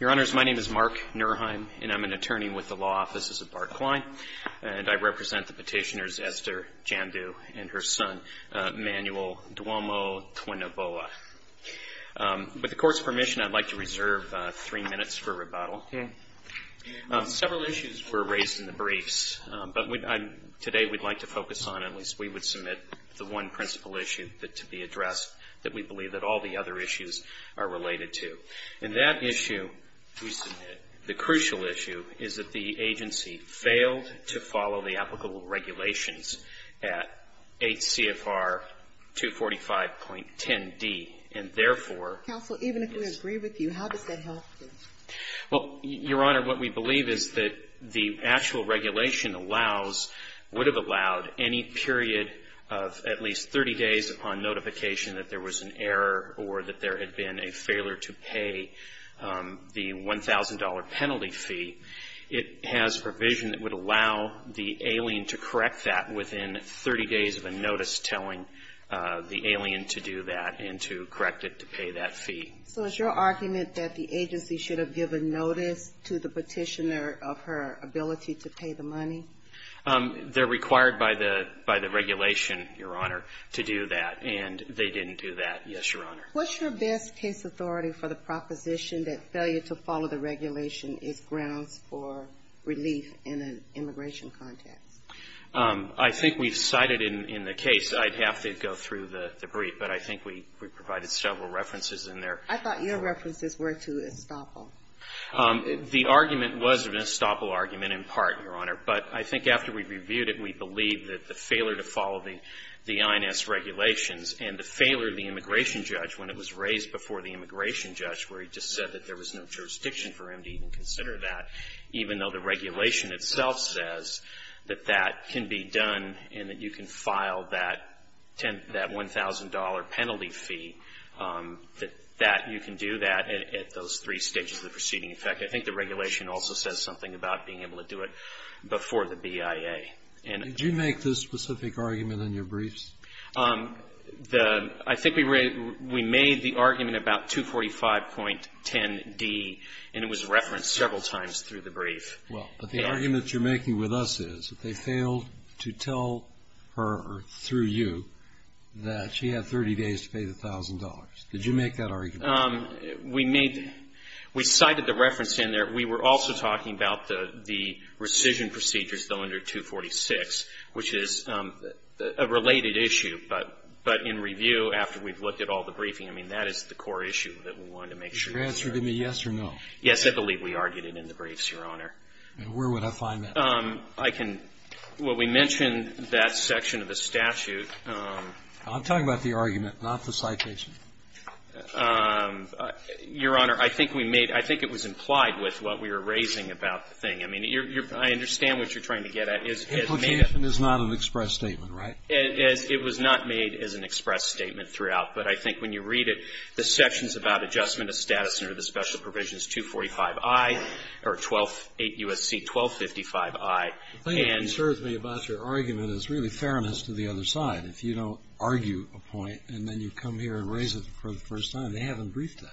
Your Honors, my name is Mark Nurheim and I'm an attorney with the Law Offices at Barclay and I represent the petitioners Esther Jandu and her son, Manuel Duomo-Twinoboa. With the Court's permission, I'd like to reserve three minutes for rebuttal. Several issues were raised in the briefs, but today we'd like to focus on, at least we would submit, the one principal issue to be addressed that we believe that all the other issues are related to. And that issue we submit, the crucial issue, is that the agency failed to follow the applicable regulations at 8 CFR 245.10d, and therefore... Counsel, even if we agree with you, how does that help? Well, Your Honor, what we believe is that the actual regulation allows, would have allowed any period of at least 30 days upon notification that there was an error or that there had been a failure to pay the $1,000 penalty fee. It has provision that would allow the alien to correct that within 30 days of a notice telling the alien to do that and to correct it to pay that fee. So is your argument that the agency should have given notice to the petitioner of her ability to pay the money? They're required by the regulation, Your Honor, to do that, and they didn't do that, yes, Your Honor. What's your best case authority for the proposition that failure to follow the regulation is grounds for relief in an immigration context? I think we've cited in the case, I'd have to go through the brief, but I think we provided several references in there. I thought your references were to Estoppel. The argument was an Estoppel argument in part, Your Honor. But I think after we reviewed it, we believe that the failure to follow the INS regulations and the failure of the immigration judge when it was raised before the immigration judge where he just said that there was no jurisdiction for him to even consider that, even though the regulation itself says that that can be done and that you can file that $1,000 penalty fee, that you can do that at those three stages of the proceeding. In fact, I think the regulation also says something about being able to do it before the BIA. Did you make this specific argument in your briefs? I think we made the argument about 245.10d, and it was referenced several times through the brief. Well, but the argument you're making with us is that they failed to tell her through you that she had 30 days to pay the $1,000. Did you make that argument? We cited the reference in there. Your Honor, we were also talking about the rescission procedures, though, under 246, which is a related issue. But in review, after we've looked at all the briefing, I mean, that is the core issue that we wanted to make sure. Is your answer to me yes or no? Yes, I believe we argued it in the briefs, Your Honor. And where would I find that? I can — well, we mentioned that section of the statute. I'm talking about the argument, not the citation. Your Honor, I think we made — I think it was implied with what we were raising about the thing. I mean, I understand what you're trying to get at. Implication is not an express statement, right? It was not made as an express statement throughout. But I think when you read it, the sections about adjustment of status under the special provisions 245i or 12 — 8 U.S.C. 1255i, and — The thing that concerns me about your argument is really fairness to the other side. If you don't argue a point and then you come here and raise it for the first time, they haven't briefed that.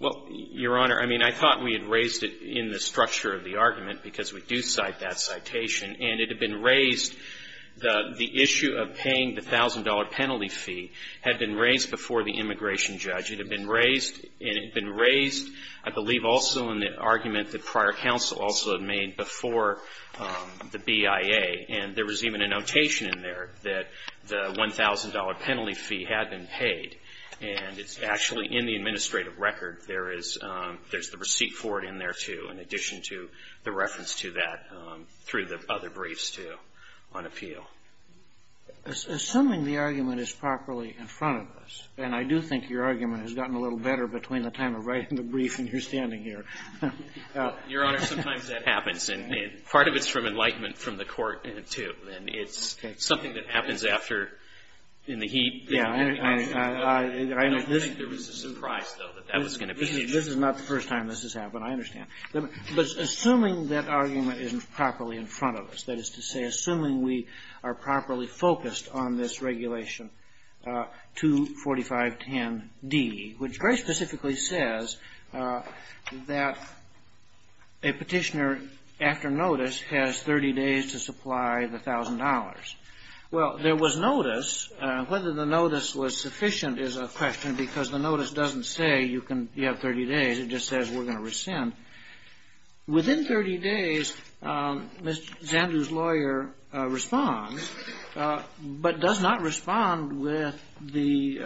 Well, Your Honor, I mean, I thought we had raised it in the structure of the argument because we do cite that citation. And it had been raised — the issue of paying the $1,000 penalty fee had been raised before the immigration judge. It had been raised — and it had been raised, I believe, also in the argument that prior counsel also had made before the BIA. And there was even a notation in there that the $1,000 penalty fee had been paid. And it's actually in the administrative record. There is — there's the receipt for it in there, too, in addition to the reference to that through the other briefs, too, on appeal. Assuming the argument is properly in front of us. And I do think your argument has gotten a little better between the time of writing the brief and your standing here. Your Honor, sometimes that happens. And part of it's from enlightenment from the court, too. And it's something that happens after — in the heat. I don't think there was a surprise, though, that that was going to be changed. This is not the first time this has happened. I understand. But assuming that argument is properly in front of us, that is to say, assuming we are properly focused on this Regulation 24510D, which very specifically says that a petitioner, after notice, has 30 days to supply the $1,000. Well, there was notice. Whether the notice was sufficient is a question, because the notice doesn't say you have 30 days. It just says we're going to rescind. Within 30 days, Ms. Zandu's lawyer responds, but does not respond with the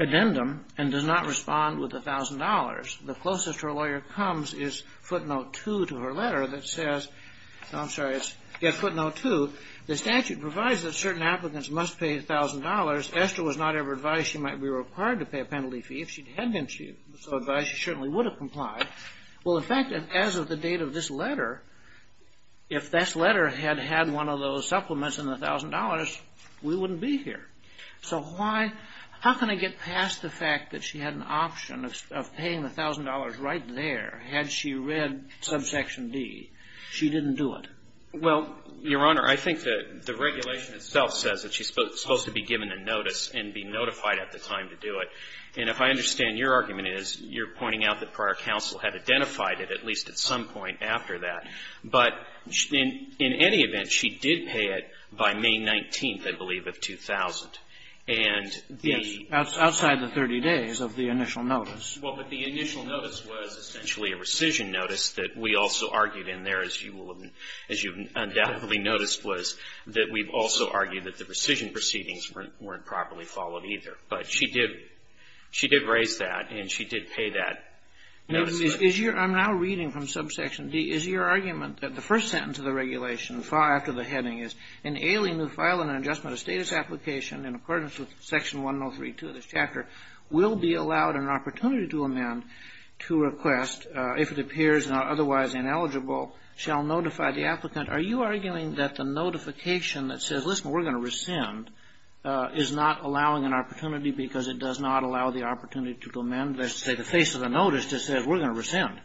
addendum and does not respond with $1,000. The closest her lawyer comes is footnote 2 to her letter that says — I'm sorry, it's footnote 2. The statute provides that certain applicants must pay $1,000. Esther was not ever advised she might be required to pay a penalty fee. If she had been so advised, she certainly would have complied. Well, in fact, as of the date of this letter, if this letter had had one of those supplements in the $1,000, we wouldn't be here. So how can I get past the fact that she had an option of paying the $1,000 right there had she read subsection D? She didn't do it. Well, Your Honor, I think the regulation itself says that she's supposed to be given a notice and be notified at the time to do it. And if I understand your argument, it is you're pointing out that prior counsel had identified it at least at some point after that. But in any event, she did pay it by May 19th, I believe, of 2000. And the — Yes. Outside the 30 days of the initial notice. Well, but the initial notice was essentially a rescission notice that we also argued in there, as you undoubtedly noticed, was that we've also argued that the rescission proceedings weren't properly followed either. But she did — she did raise that, and she did pay that notice. Is your — I'm now reading from subsection D. Is your argument that the first sentence of the regulation, far after the heading is, in ailing to file an adjustment of status application in accordance with Section 103.2 of this chapter, will be allowed an opportunity to amend to request, if it appears otherwise ineligible, shall notify the applicant. Are you arguing that the notification that says, listen, we're going to rescind, is not allowing an opportunity, because it does not allow the opportunity to amend, let's say, the face of the notice that says, we're going to rescind?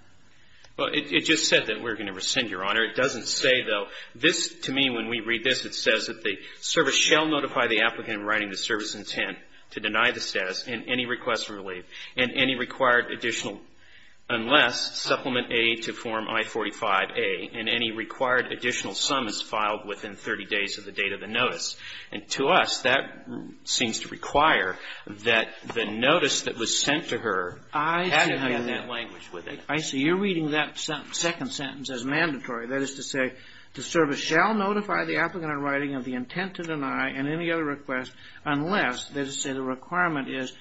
Well, it just said that we're going to rescind, Your Honor. It doesn't say, though, this to me, when we read this, it says that the service shall notify the applicant in writing the service intent to deny the status and any requests relieved, and any required additional, unless supplement A to Form I-45a, and any required additional sum is filed within 30 days of the date of the notice. And to us, that seems to require that the notice that was sent to her had to have that language with it. I see. You're reading that second sentence as mandatory. That is to say, the service shall notify the applicant in writing of the intent to deny, and any other request, unless, let's say the requirement is,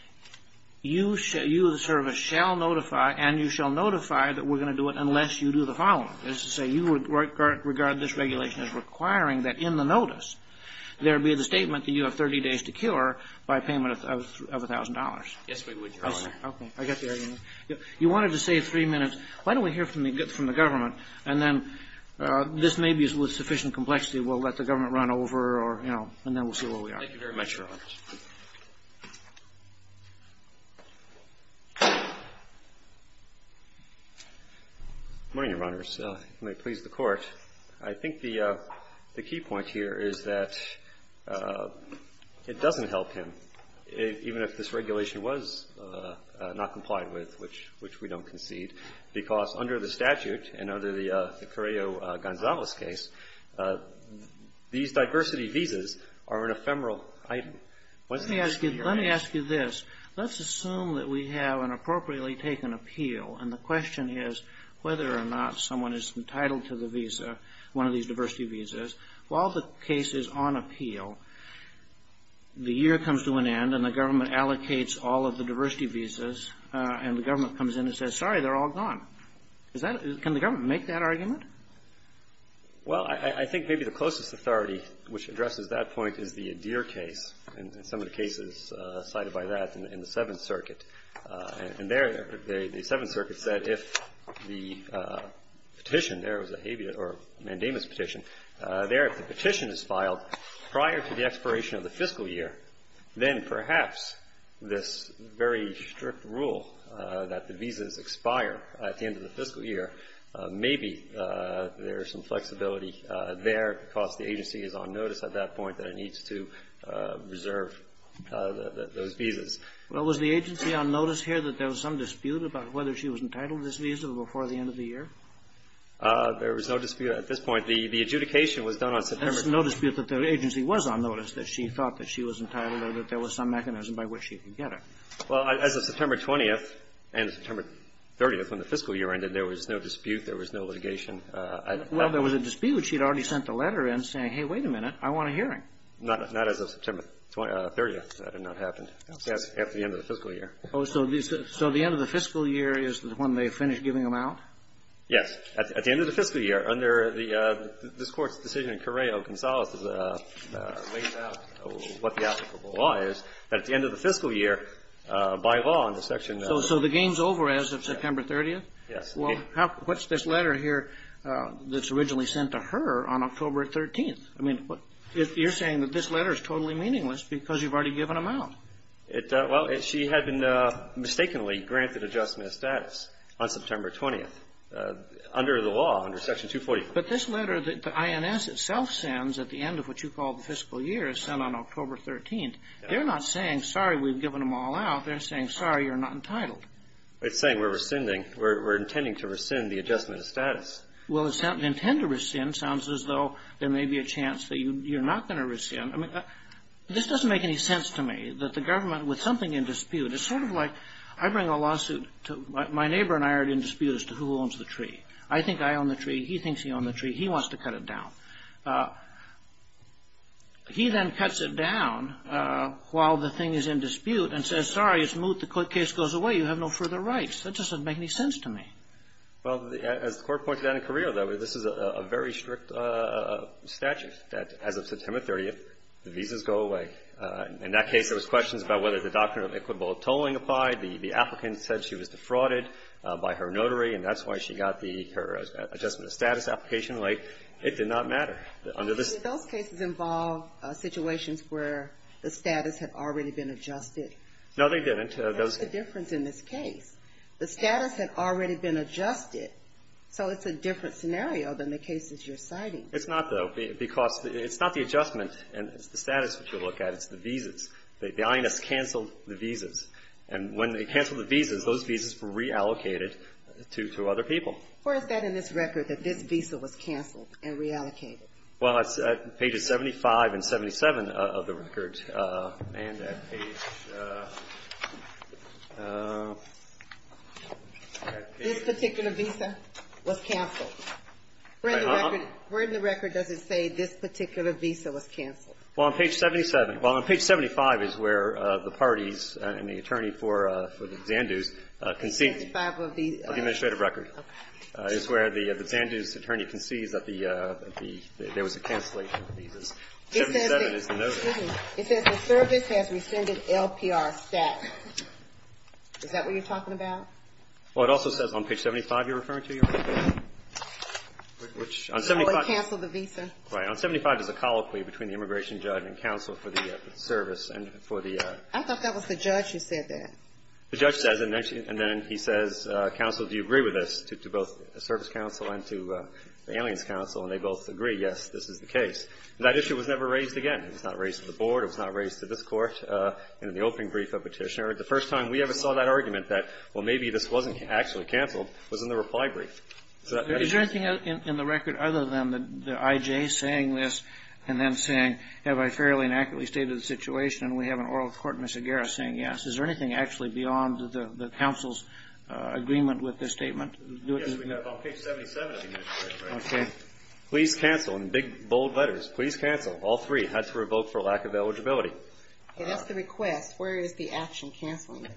you, the service, shall notify, and you shall notify that we're going to do it unless you do the following. The second sentence is to say you would regard this regulation as requiring that in the notice there be the statement that you have 30 days to cure by payment of $1,000. Yes, we would, Your Honor. Okay. I get the argument. You wanted to say three minutes. Why don't we hear from the government, and then this may be with sufficient complexity, we'll let the government run over, or, you know, and then we'll see where Thank you very much, Your Honor. Good morning, Your Honors. You may please the Court. I think the key point here is that it doesn't help him, even if this regulation was not complied with, which we don't concede, because under the statute and under the Carrillo-Gonzalez case, these diversity visas are an ephemeral item. Let me ask you this. Let's assume that we have an appropriately taken appeal, and the question is whether or not someone is entitled to the visa, one of these diversity visas. While the case is on appeal, the year comes to an end, and the government allocates all of the diversity visas, and the government comes in and says, sorry, they're all gone. Is that — can the government make that argument? Well, I think maybe the closest authority which addresses that point is the Adair case, and some of the cases cited by that in the Seventh Circuit. And there, the Seventh Circuit said if the petition there was a habeas or mandamus petition, there if the petition is filed prior to the expiration of the fiscal year, then perhaps this very strict rule that the visas expire at the end of the fiscal year, maybe there's some flexibility there because the agency is on notice at that point that it needs to reserve those visas. Well, was the agency on notice here that there was some dispute about whether she was entitled to this visa before the end of the year? There was no dispute at this point. The adjudication was done on September 10th. There was no dispute that the agency was on notice, that she thought that she was entitled or that there was some mechanism by which she could get it. Well, as of September 20th and September 30th, when the fiscal year ended, there was no dispute, there was no litigation. Well, there was a dispute. She had already sent the letter in saying, hey, wait a minute, I want a hearing. Not as of September 30th. That had not happened. Yes. After the end of the fiscal year. Oh, so the end of the fiscal year is when they finish giving them out? Yes. At the end of the fiscal year, under this Court's decision, Correo-Gonzalez lays out what the applicable law is. At the end of the fiscal year, by law, under section of the law. So the game's over as of September 30th? Yes. Well, what's this letter here that's originally sent to her on October 13th? I mean, you're saying that this letter is totally meaningless because you've already given them out. Well, she had been mistakenly granted adjustment of status on September 20th, under the law, under section 244. But this letter that the INS itself sends at the end of what you call the fiscal year is sent on October 13th. They're not saying, sorry, we've given them all out. They're saying, sorry, you're not entitled. It's saying we're rescinding. We're intending to rescind the adjustment of status. Well, to intend to rescind sounds as though there may be a chance that you're not going to rescind. I mean, this doesn't make any sense to me, that the government, with something in dispute. It's sort of like I bring a lawsuit to my neighbor and I are in dispute as to who owns the tree. I think I own the tree. He thinks he owns the tree. He wants to cut it down. He then cuts it down while the thing is in dispute and says, sorry, it's moot. The case goes away. You have no further rights. That doesn't make any sense to me. Well, as the Court pointed out in Carrillo, this is a very strict statute that, as of September 30th, the visas go away. In that case, there was questions about whether the doctrine of equitable tolling applied. The applicant said she was defrauded by her notary, and that's why she got her adjustment of status application late. It did not matter. Under this ---- But did those cases involve situations where the status had already been adjusted? No, they didn't. That's the difference in this case. The status had already been adjusted, so it's a different scenario than the cases you're citing. It's not, though, because it's not the adjustment. It's the status that you look at. It's the visas. The INS canceled the visas. And when they canceled the visas, those visas were reallocated to other people. Where is that in this record, that this visa was canceled and reallocated? Well, it's at pages 75 and 77 of the record. And at page ---- This particular visa was canceled. Where in the record does it say this particular visa was canceled? Well, on page 77. Well, on page 75 is where the parties and the attorney for the Xandus concede ---- Page 5 of the ---- Of the administrative record. Okay. It's where the Xandus attorney concedes that there was a cancellation of visas. 77 is the notice. It says the service has rescinded LPR status. Is that what you're talking about? Well, it also says on page 75 you're referring to. Which on 75. Oh, it canceled the visa. Right. On 75 there's a colloquy between the immigration judge and counsel for the service and for the. I thought that was the judge who said that. The judge says it. And then he says, counsel, do you agree with this? To both the service counsel and to the aliens counsel. And they both agree, yes, this is the case. And that issue was never raised again. It was not raised to the board. It was not raised to this court. And in the opening brief of Petitioner, the first time we ever saw that argument that, well, maybe this wasn't actually canceled, was in the reply brief. Is there anything in the record other than the IJ saying this and then saying, have I fairly and accurately stated the situation? And we have an oral court in Mississauga saying yes. Is there anything actually beyond the counsel's agreement with this statement? Yes, we have. On page 77. Okay. Please cancel in big, bold letters. Please cancel. All three. Had to revoke for lack of eligibility. It is the request. Where is the action canceling it?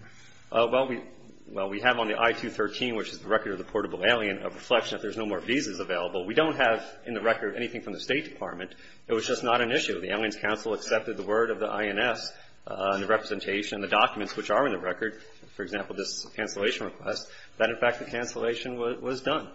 Well, we have on the I-213, which is the record of the portable alien, a reflection that there's no more visas available. We don't have in the record anything from the State Department. It was just not an issue. The aliens counsel accepted the word of the INS and the representation and the documents which are in the record, for example, this cancellation request, that, in fact, the cancellation was done.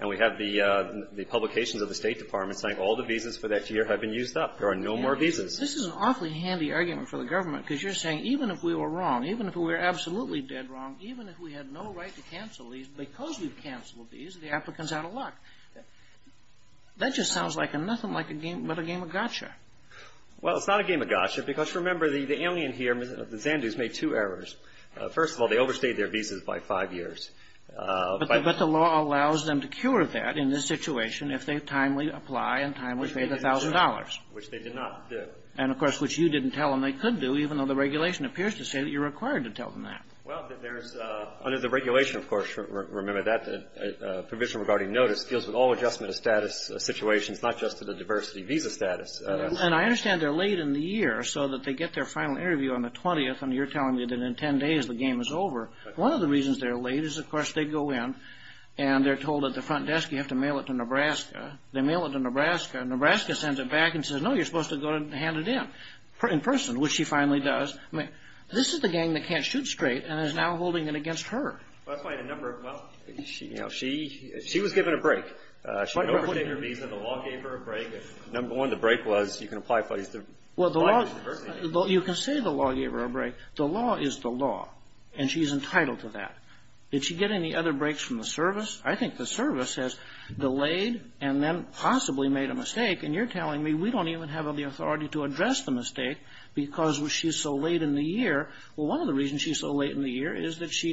And we have the publications of the State Department saying all the visas for that year have been used up. There are no more visas. This is an awfully handy argument for the government because you're saying even if we were wrong, even if we were absolutely dead wrong, even if we had no right to cancel these, because we've canceled these, the applicant's out of luck. That just sounds like nothing but a game of gotcha. Well, it's not a game of gotcha because, remember, the alien here, the Zandu's, made two errors. First of all, they overstayed their visas by five years. But the law allows them to cure that in this situation if they timely apply and timely pay the $1,000. Which they did not do. And, of course, which you didn't tell them they could do, even though the regulation appears to say that you're required to tell them that. Well, there's under the regulation, of course, remember that, the provision regarding notice deals with all adjustment of status situations, not just to the diversity visa status. And I understand they're late in the year so that they get their final interview on the 20th and you're telling me that in 10 days the game is over. One of the reasons they're late is, of course, they go in and they're told at the front desk, you have to mail it to Nebraska. They mail it to Nebraska. Nebraska sends it back and says, no, you're supposed to go and hand it in, in person, which she finally does. I mean, this is the gang that can't shoot straight and is now holding it against her. Well, that's why a number of them, well, you know, she was given a break. She overstayed her visa. The law gave her a break. Number one, the break was you can apply for the diversity visa. Well, you can say the law gave her a break. The law is the law. And she's entitled to that. Did she get any other breaks from the service? I think the service has delayed and then possibly made a mistake. And you're telling me we don't even have the authority to address the mistake because she's so late in the year. Well, one of the reasons she's so late in the year is that she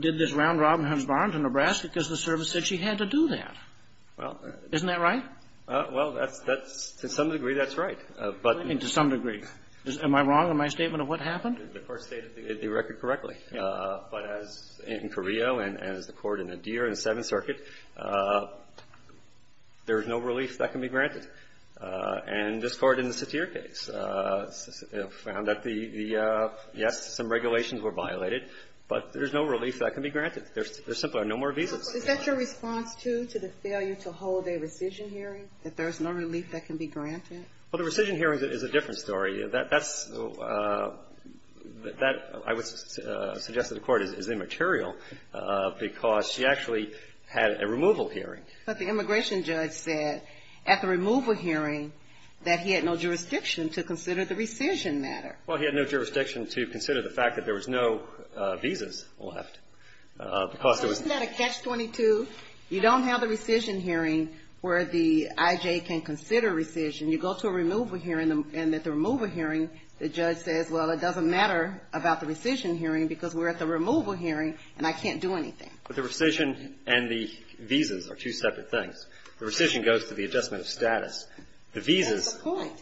did this round-robin husband to Nebraska because the service said she had to do that. Isn't that right? Well, to some degree, that's right. To some degree. Am I wrong in my statement of what happened? The court stated the record correctly. But as in Korea and as the court in Adir in the Seventh Circuit, there's no relief that can be granted. And this Court in the Satir case found that the yes, some regulations were violated, but there's no relief that can be granted. There's simply no more visas. Is that your response, too, to the failure to hold a rescission hearing, that there's no relief that can be granted? Well, the rescission hearing is a different story. That's – I would suggest that the court is immaterial because she actually had a removal hearing. But the immigration judge said at the removal hearing that he had no jurisdiction to consider the rescission matter. Well, he had no jurisdiction to consider the fact that there was no visas left because it was – Isn't that a catch-22? You don't have a rescission hearing where the I.J. can consider rescission. You go to a removal hearing and at the removal hearing the judge says, well, it doesn't matter about the rescission hearing because we're at the removal hearing and I can't do anything. But the rescission and the visas are two separate things. The rescission goes to the adjustment of status. The visas – That's the point.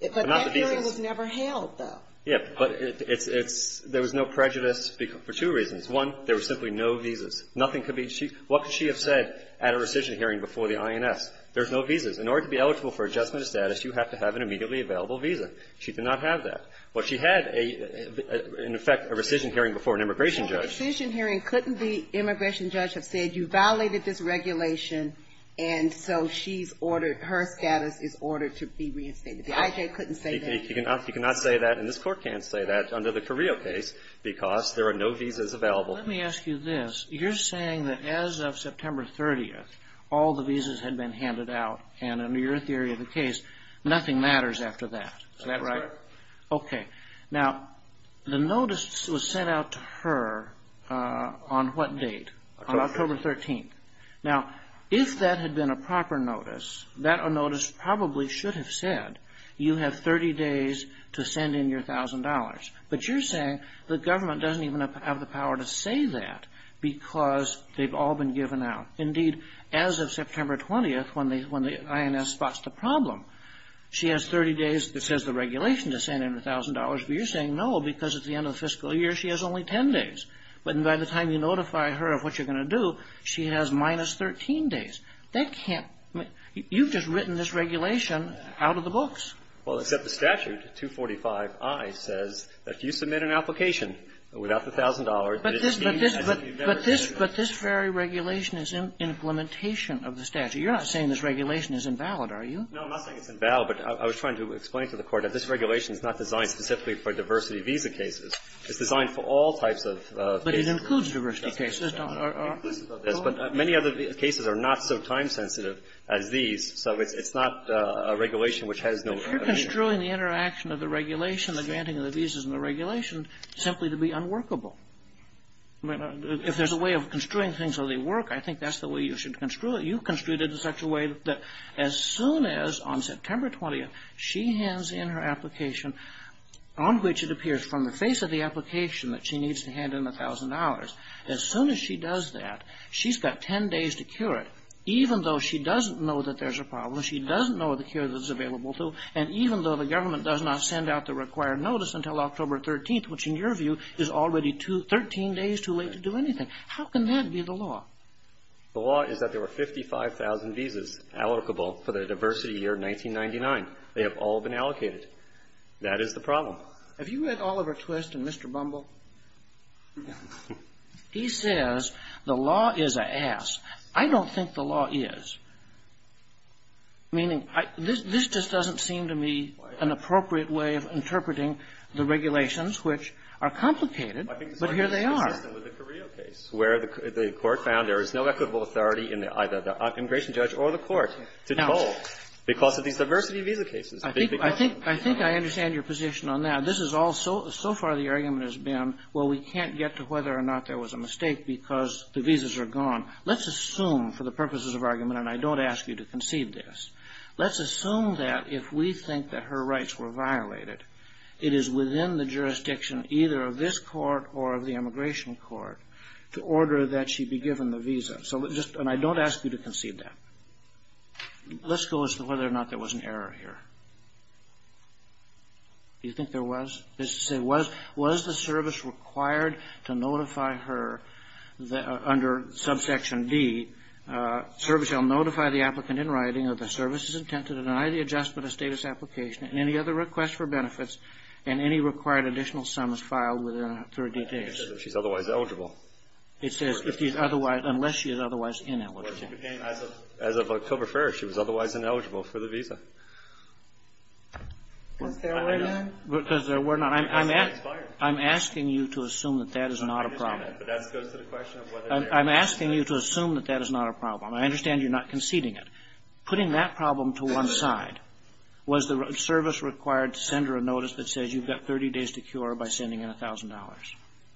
But that hearing was never held, though. Yeah. But it's – there was no prejudice for two reasons. One, there were simply no visas. Nothing could be – what could she have said at a rescission hearing before the INS? There's no visas. In order to be eligible for adjustment of status, you have to have an immediately available visa. She did not have that. But she had a – in effect, a rescission hearing before an immigration judge. But at the rescission hearing, couldn't the immigration judge have said you violated this regulation and so she's ordered – her status is ordered to be reinstated? The IJ couldn't say that. You cannot say that and this Court can't say that under the Carrillo case because there are no visas available. Let me ask you this. You're saying that as of September 30th, all the visas had been handed out, and under your theory of the case, nothing matters after that. Is that right? That's right. Okay. Now, the notice was sent out to her on what date? October 13th. On October 13th. Now, if that had been a proper notice, that notice probably should have said, you have 30 days to send in your $1,000. But you're saying the government doesn't even have the power to say that because they've all been given out. Indeed, as of September 20th, when the INS spots the problem, she has 30 days that says the regulation to send in $1,000, but you're saying no because at the end of the fiscal year, she has only 10 days. But by the time you notify her of what you're going to do, she has minus 13 days. That can't – you've just written this regulation out of the books. Well, except the statute, 245I, says that if you submit an application without the $1,000, it is deemed as if you've never submitted it. But this very regulation is an implementation of the statute. You're not saying this regulation is invalid, are you? No, I'm not saying it's invalid. But I was trying to explain to the Court that this regulation is not designed specifically for diversity visa cases. It's designed for all types of cases. But it includes diversity cases, don't it? But many other cases are not so time-sensitive as these. So it's not a regulation which has no – If you're construing the interaction of the regulation, the granting of the visas and the regulation, simply to be unworkable. If there's a way of construing things so they work, I think that's the way you should construe it. You construed it in such a way that as soon as, on September 20th, she hands in her application on which it appears from the face of the application that she needs to hand in $1,000, as soon as she does that, she's got 10 days to cure it, even though she doesn't know that there's a problem, she doesn't know the cure that it's available to, and even though the government does not send out the required notice until October 13th, which, in your view, is already 13 days too late to do anything. How can that be the law? The law is that there were 55,000 visas allocable for the diversity year 1999. They have all been allocated. That is the problem. Have you read Oliver Twist and Mr. Bumble? He says the law is an ass. I don't think the law is. Meaning, this just doesn't seem to me an appropriate way of interpreting the regulations, which are complicated, but here they are. I think the problem is consistent with the Carrillo case, where the court found there is no equitable authority in either the immigration judge or the court to toll because of these diversity visa cases. I think I understand your position on that. This is all so far the argument has been, well, we can't get to whether or not there was a mistake because the visas are gone. Let's assume, for the purposes of argument, and I don't ask you to concede this, let's assume that if we think that her rights were violated, it is within the jurisdiction either of this court or of the immigration court to order that she be given the visa. And I don't ask you to concede that. Let's go as to whether or not there was an error here. Do you think there was? Was the service required to notify her under subsection D, service shall notify the applicant in writing that the service is intended to deny the adjustment of status application and any other requests for benefits and any required additional sums filed within 30 days? She's otherwise eligible. It says unless she is otherwise ineligible. As of October 1st, she was otherwise ineligible for the visa. Is there a way then? Because there were not. I'm asking you to assume that that is not a problem. I'm asking you to assume that that is not a problem. I understand you're not conceding it. Putting that problem to one side, was the service required to send her a notice that says you've got 30 days to cure by sending in $1,000?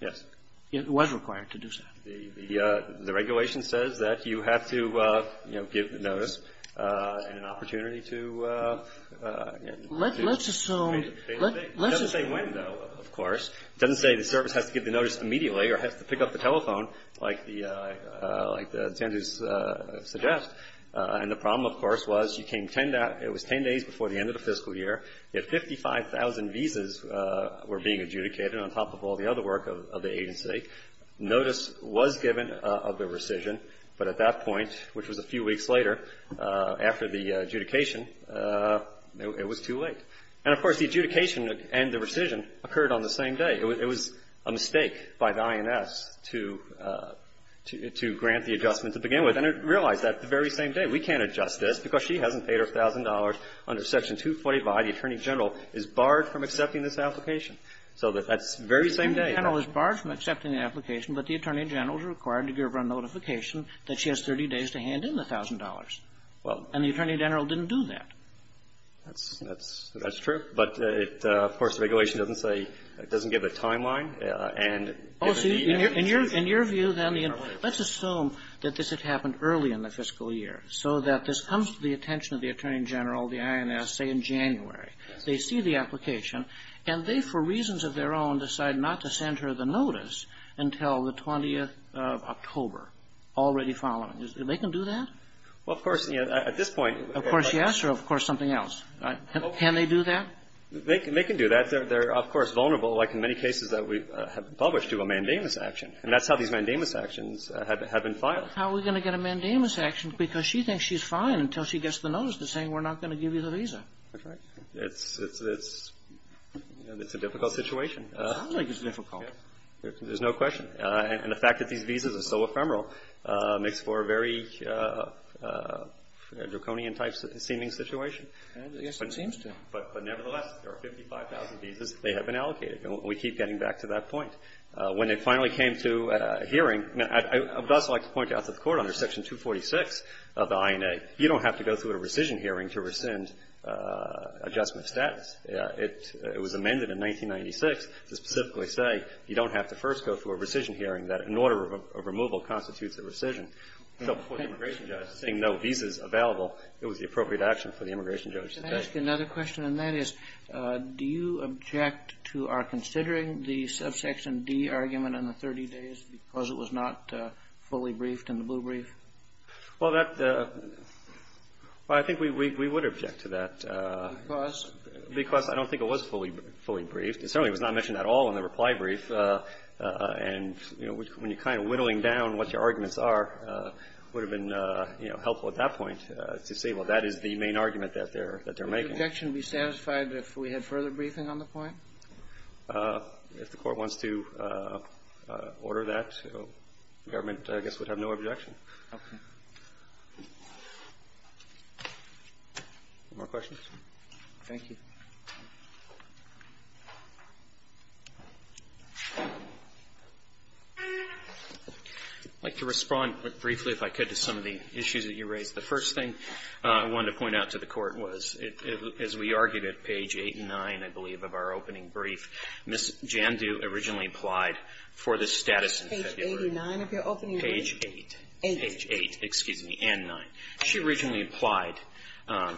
Yes. It was required to do so. The regulation says that you have to, you know, give the notice and an opportunity to assume. Let's assume. It doesn't say when, though, of course. It doesn't say the service has to give the notice immediately or has to pick up the telephone like the standards suggest. And the problem, of course, was you came 10 days before the end of the fiscal year. You had 55,000 visas were being adjudicated on top of all the other work of the agency. Notice was given of the rescission, but at that point, which was a few weeks later, after the adjudication, it was too late. And, of course, the adjudication and the rescission occurred on the same day. It was a mistake by the INS to grant the adjustment to begin with. And it realized that the very same day. We can't adjust this because she hasn't paid her $1,000 under Section 245. The Attorney General is barred from accepting this application. So that's the very same day. The Attorney General is barred from accepting the application, but the Attorney General is required to give her a notification that she has 30 days to hand in the $1,000. And the Attorney General didn't do that. That's true. But, of course, the regulation doesn't say, doesn't give a timeline. Oh, see, in your view, then, let's assume that this had happened early in the fiscal year, so that this comes to the attention of the Attorney General, the INS, say in January. They see the application, and they, for reasons of their own, decide not to send her the notice until the 20th of October, already following. They can do that? Well, of course, at this point. Of course, yes. Or, of course, something else. Can they do that? They can do that. They're, of course, vulnerable, like in many cases that we have published to a mandamus action. And that's how these mandamus actions have been filed. How are we going to get a mandamus action? That's right. It's a difficult situation. It sounds like it's difficult. There's no question. And the fact that these visas are so ephemeral makes for a very draconian-type seeming situation. Yes, it seems to. But, nevertheless, there are 55,000 visas that have been allocated. And we keep getting back to that point. When it finally came to a hearing, I would also like to point out to the Court, under Section 246 of the INA, you don't have to go through a rescission hearing to rescind adjustment status. It was amended in 1996 to specifically say you don't have to first go through a rescission hearing, that an order of removal constitutes a rescission. So for the immigration judge, seeing no visas available, it was the appropriate action for the immigration judge to take. Can I ask you another question? And that is, do you object to our considering the Subsection D argument on the 30 days because it was not fully briefed in the blue brief? Well, that the – well, I think we would object to that. Because? Because I don't think it was fully briefed. It certainly was not mentioned at all in the reply brief. And, you know, when you're kind of whittling down what your arguments are, it would have been, you know, helpful at that point to say, well, that is the main argument that they're making. Would your objection be satisfied if we had further briefing on the point? If the Court wants to order that, the government, I guess, would have no objection. More questions? Thank you. I'd like to respond briefly, if I could, to some of the issues that you raised. The first thing I wanted to point out to the Court was, as we argued at page 8 and 9, I believe, of our opening brief, Ms. Jandu originally applied for the status in February. Page 89 of your opening brief? Page 8. Page 8. Page 8, excuse me, and 9. She originally applied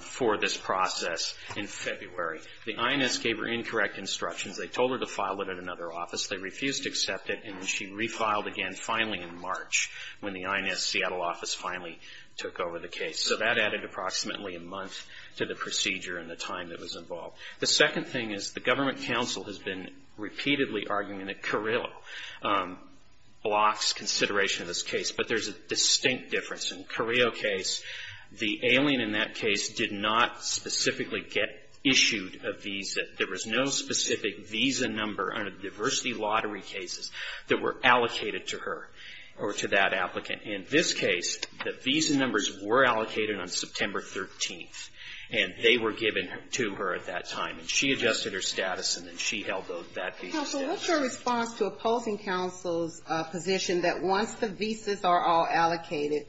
for this process in February. The INS gave her incorrect instructions. They told her to file it at another office. They refused to accept it. And then she refiled again, finally, in March, when the INS Seattle office finally took over the case. So that added approximately a month to the procedure and the time that was involved. The second thing is the government counsel has been repeatedly arguing that Carrillo blocks consideration of this case. But there's a distinct difference. In Carrillo's case, the alien in that case did not specifically get issued a visa. There was no specific visa number under the diversity lottery cases that were allocated to her or to that applicant. In this case, the visa numbers were allocated on September 13th, and they were given to her at that time. And she adjusted her status, and then she held that visa status. Counsel, what's your response to opposing counsel's position that once the visas are all allocated,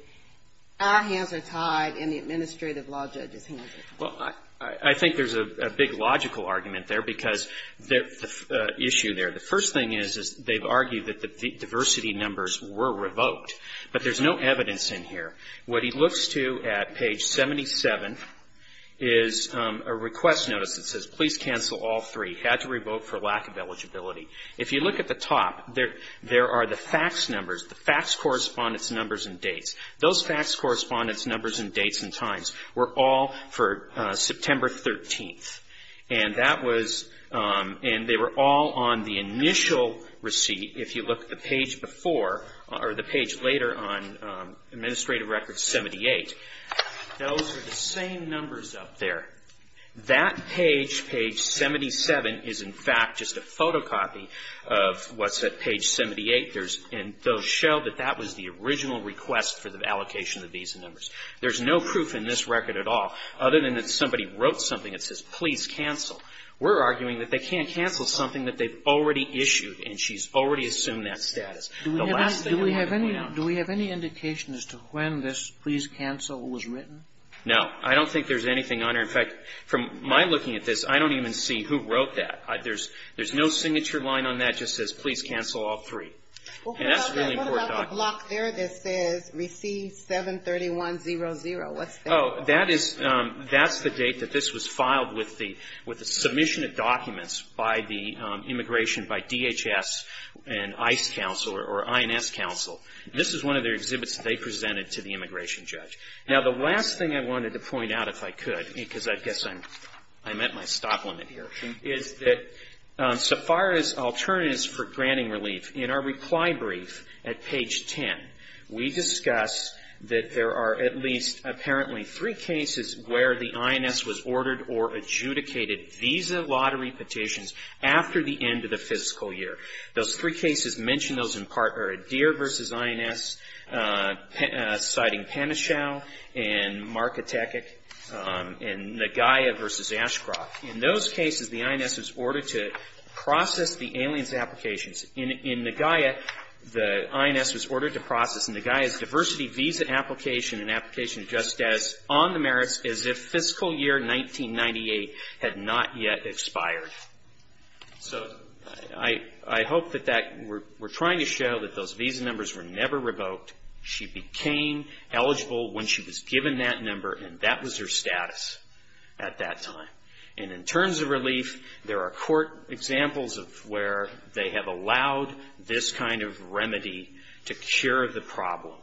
our hands are tied and the administrative law judge's hands are tied? Well, I think there's a big logical argument there, because the issue there, the first thing is they've argued that the diversity numbers were revoked. But there's no evidence in here. What he looks to at page 77 is a request notice that says, please cancel all three. Had to revoke for lack of eligibility. If you look at the top, there are the fax numbers, the fax correspondence numbers and dates. Those fax correspondence numbers and dates and times were all for September 13th. And that was, and they were all on the initial receipt. If you look at the page before, or the page later on, administrative record 78, those are the same numbers up there. That page, page 77, is, in fact, just a photocopy of what's at page 78. There's, and those show that that was the original request for the allocation of visa numbers. There's no proof in this record at all, other than that somebody wrote something that says, please cancel. We're arguing that they can't cancel something that they've already issued and she's already assumed that status. The last thing we have going on. Do we have any indication as to when this please cancel was written? No. I don't think there's anything on there. In fact, from my looking at this, I don't even see who wrote that. There's no signature line on that. It just says, please cancel all three. And that's a really important document. What about the block there that says, receive 731.00? What's that? Oh, that is, that's the date that this was filed with the, with the submission of documents by the immigration, by DHS and ICE counsel or INS counsel. This is one of their exhibits that they presented to the immigration judge. Now, the last thing I wanted to point out, if I could, because I guess I'm at my stop limit here, is that so far as alternatives for granting relief, in our reply brief at least, apparently three cases where the INS was ordered or adjudicated visa lottery petitions after the end of the fiscal year. Those three cases mentioned, those in part, are Adair versus INS, citing Penichow and Markatekic and Nagaya versus Ashcroft. In those cases, the INS was ordered to process the aliens' applications. In Nagaya, the INS was ordered to process Nagaya's diversity visa application and application of justice on the merits as if fiscal year 1998 had not yet expired. So, I hope that that, we're trying to show that those visa numbers were never revoked. She became eligible when she was given that number and that was her status at that time. And in terms of relief, there are court examples of where they have allowed this kind of remedy to cure the problem.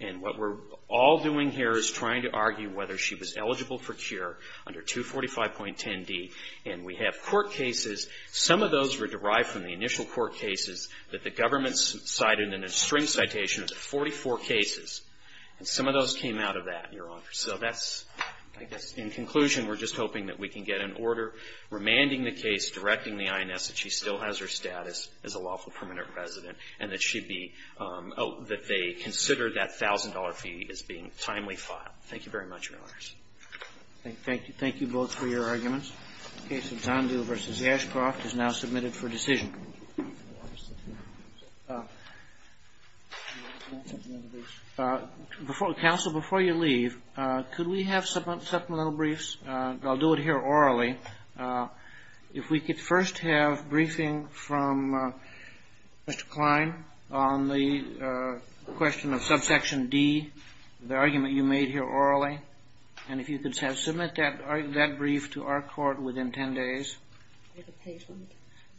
And what we're all doing here is trying to argue whether she was eligible for cure under 245.10d. And we have court cases. Some of those were derived from the initial court cases that the government cited in a string citation of 44 cases. And some of those came out of that, Your Honor. So, that's, I guess, in conclusion, we're just hoping that we can get an order remanding the case, directing the INS that she still has her status as a lawful permanent resident and that she'd be, oh, that they consider that $1,000 fee as being timely filed. Thank you very much, Your Honors. Thank you. Thank you both for your arguments. The case of Zandu v. Ashcroft is now submitted for decision. Counsel, before you leave, could we have supplemental briefs? I'll do it here orally. If we could first have briefing from Mr. Klein on the question of subsection D, the argument you made here orally. And if you could submit that brief to our court within 10 days. With a page limit.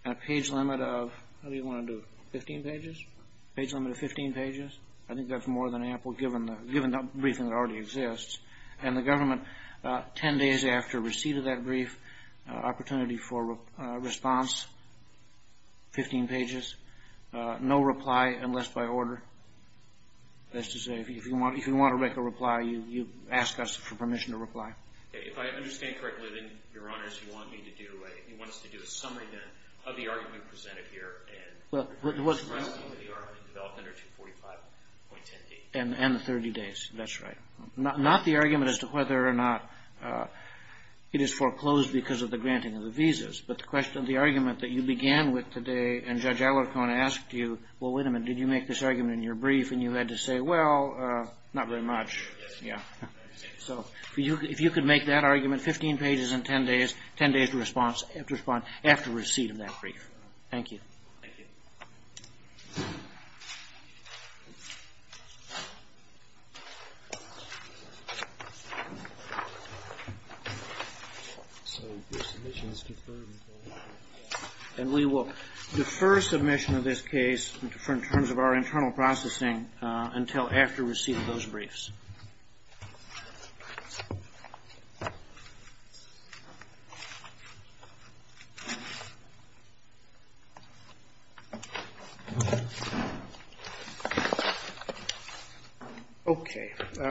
And a page limit of, how do you want to do it, 15 pages? Page limit of 15 pages. I think that's more than ample given the briefing that already exists. And the government, 10 days after receipt of that brief, opportunity for response, 15 pages. No reply unless by order. That's to say, if you want to make a reply, you ask us for permission to reply. If I understand correctly, then, Your Honors, you want me to do a, you want us to do a summary then of the argument presented here and the rest of the argument developed under 245.10D. And the 30 days. That's right. Not the argument as to whether or not it is foreclosed because of the granting of the visas. But the question, the argument that you began with today and Judge Alarcon asked you, well, wait a minute, did you make this argument in your brief? And you had to say, well, not very much. Yeah. So if you could make that argument, 15 pages in 10 days, 10 days to respond after receipt of that brief. Thank you. Thank you. And we will defer submission of this case in terms of our internal processing until after receipt of those briefs. Thank you.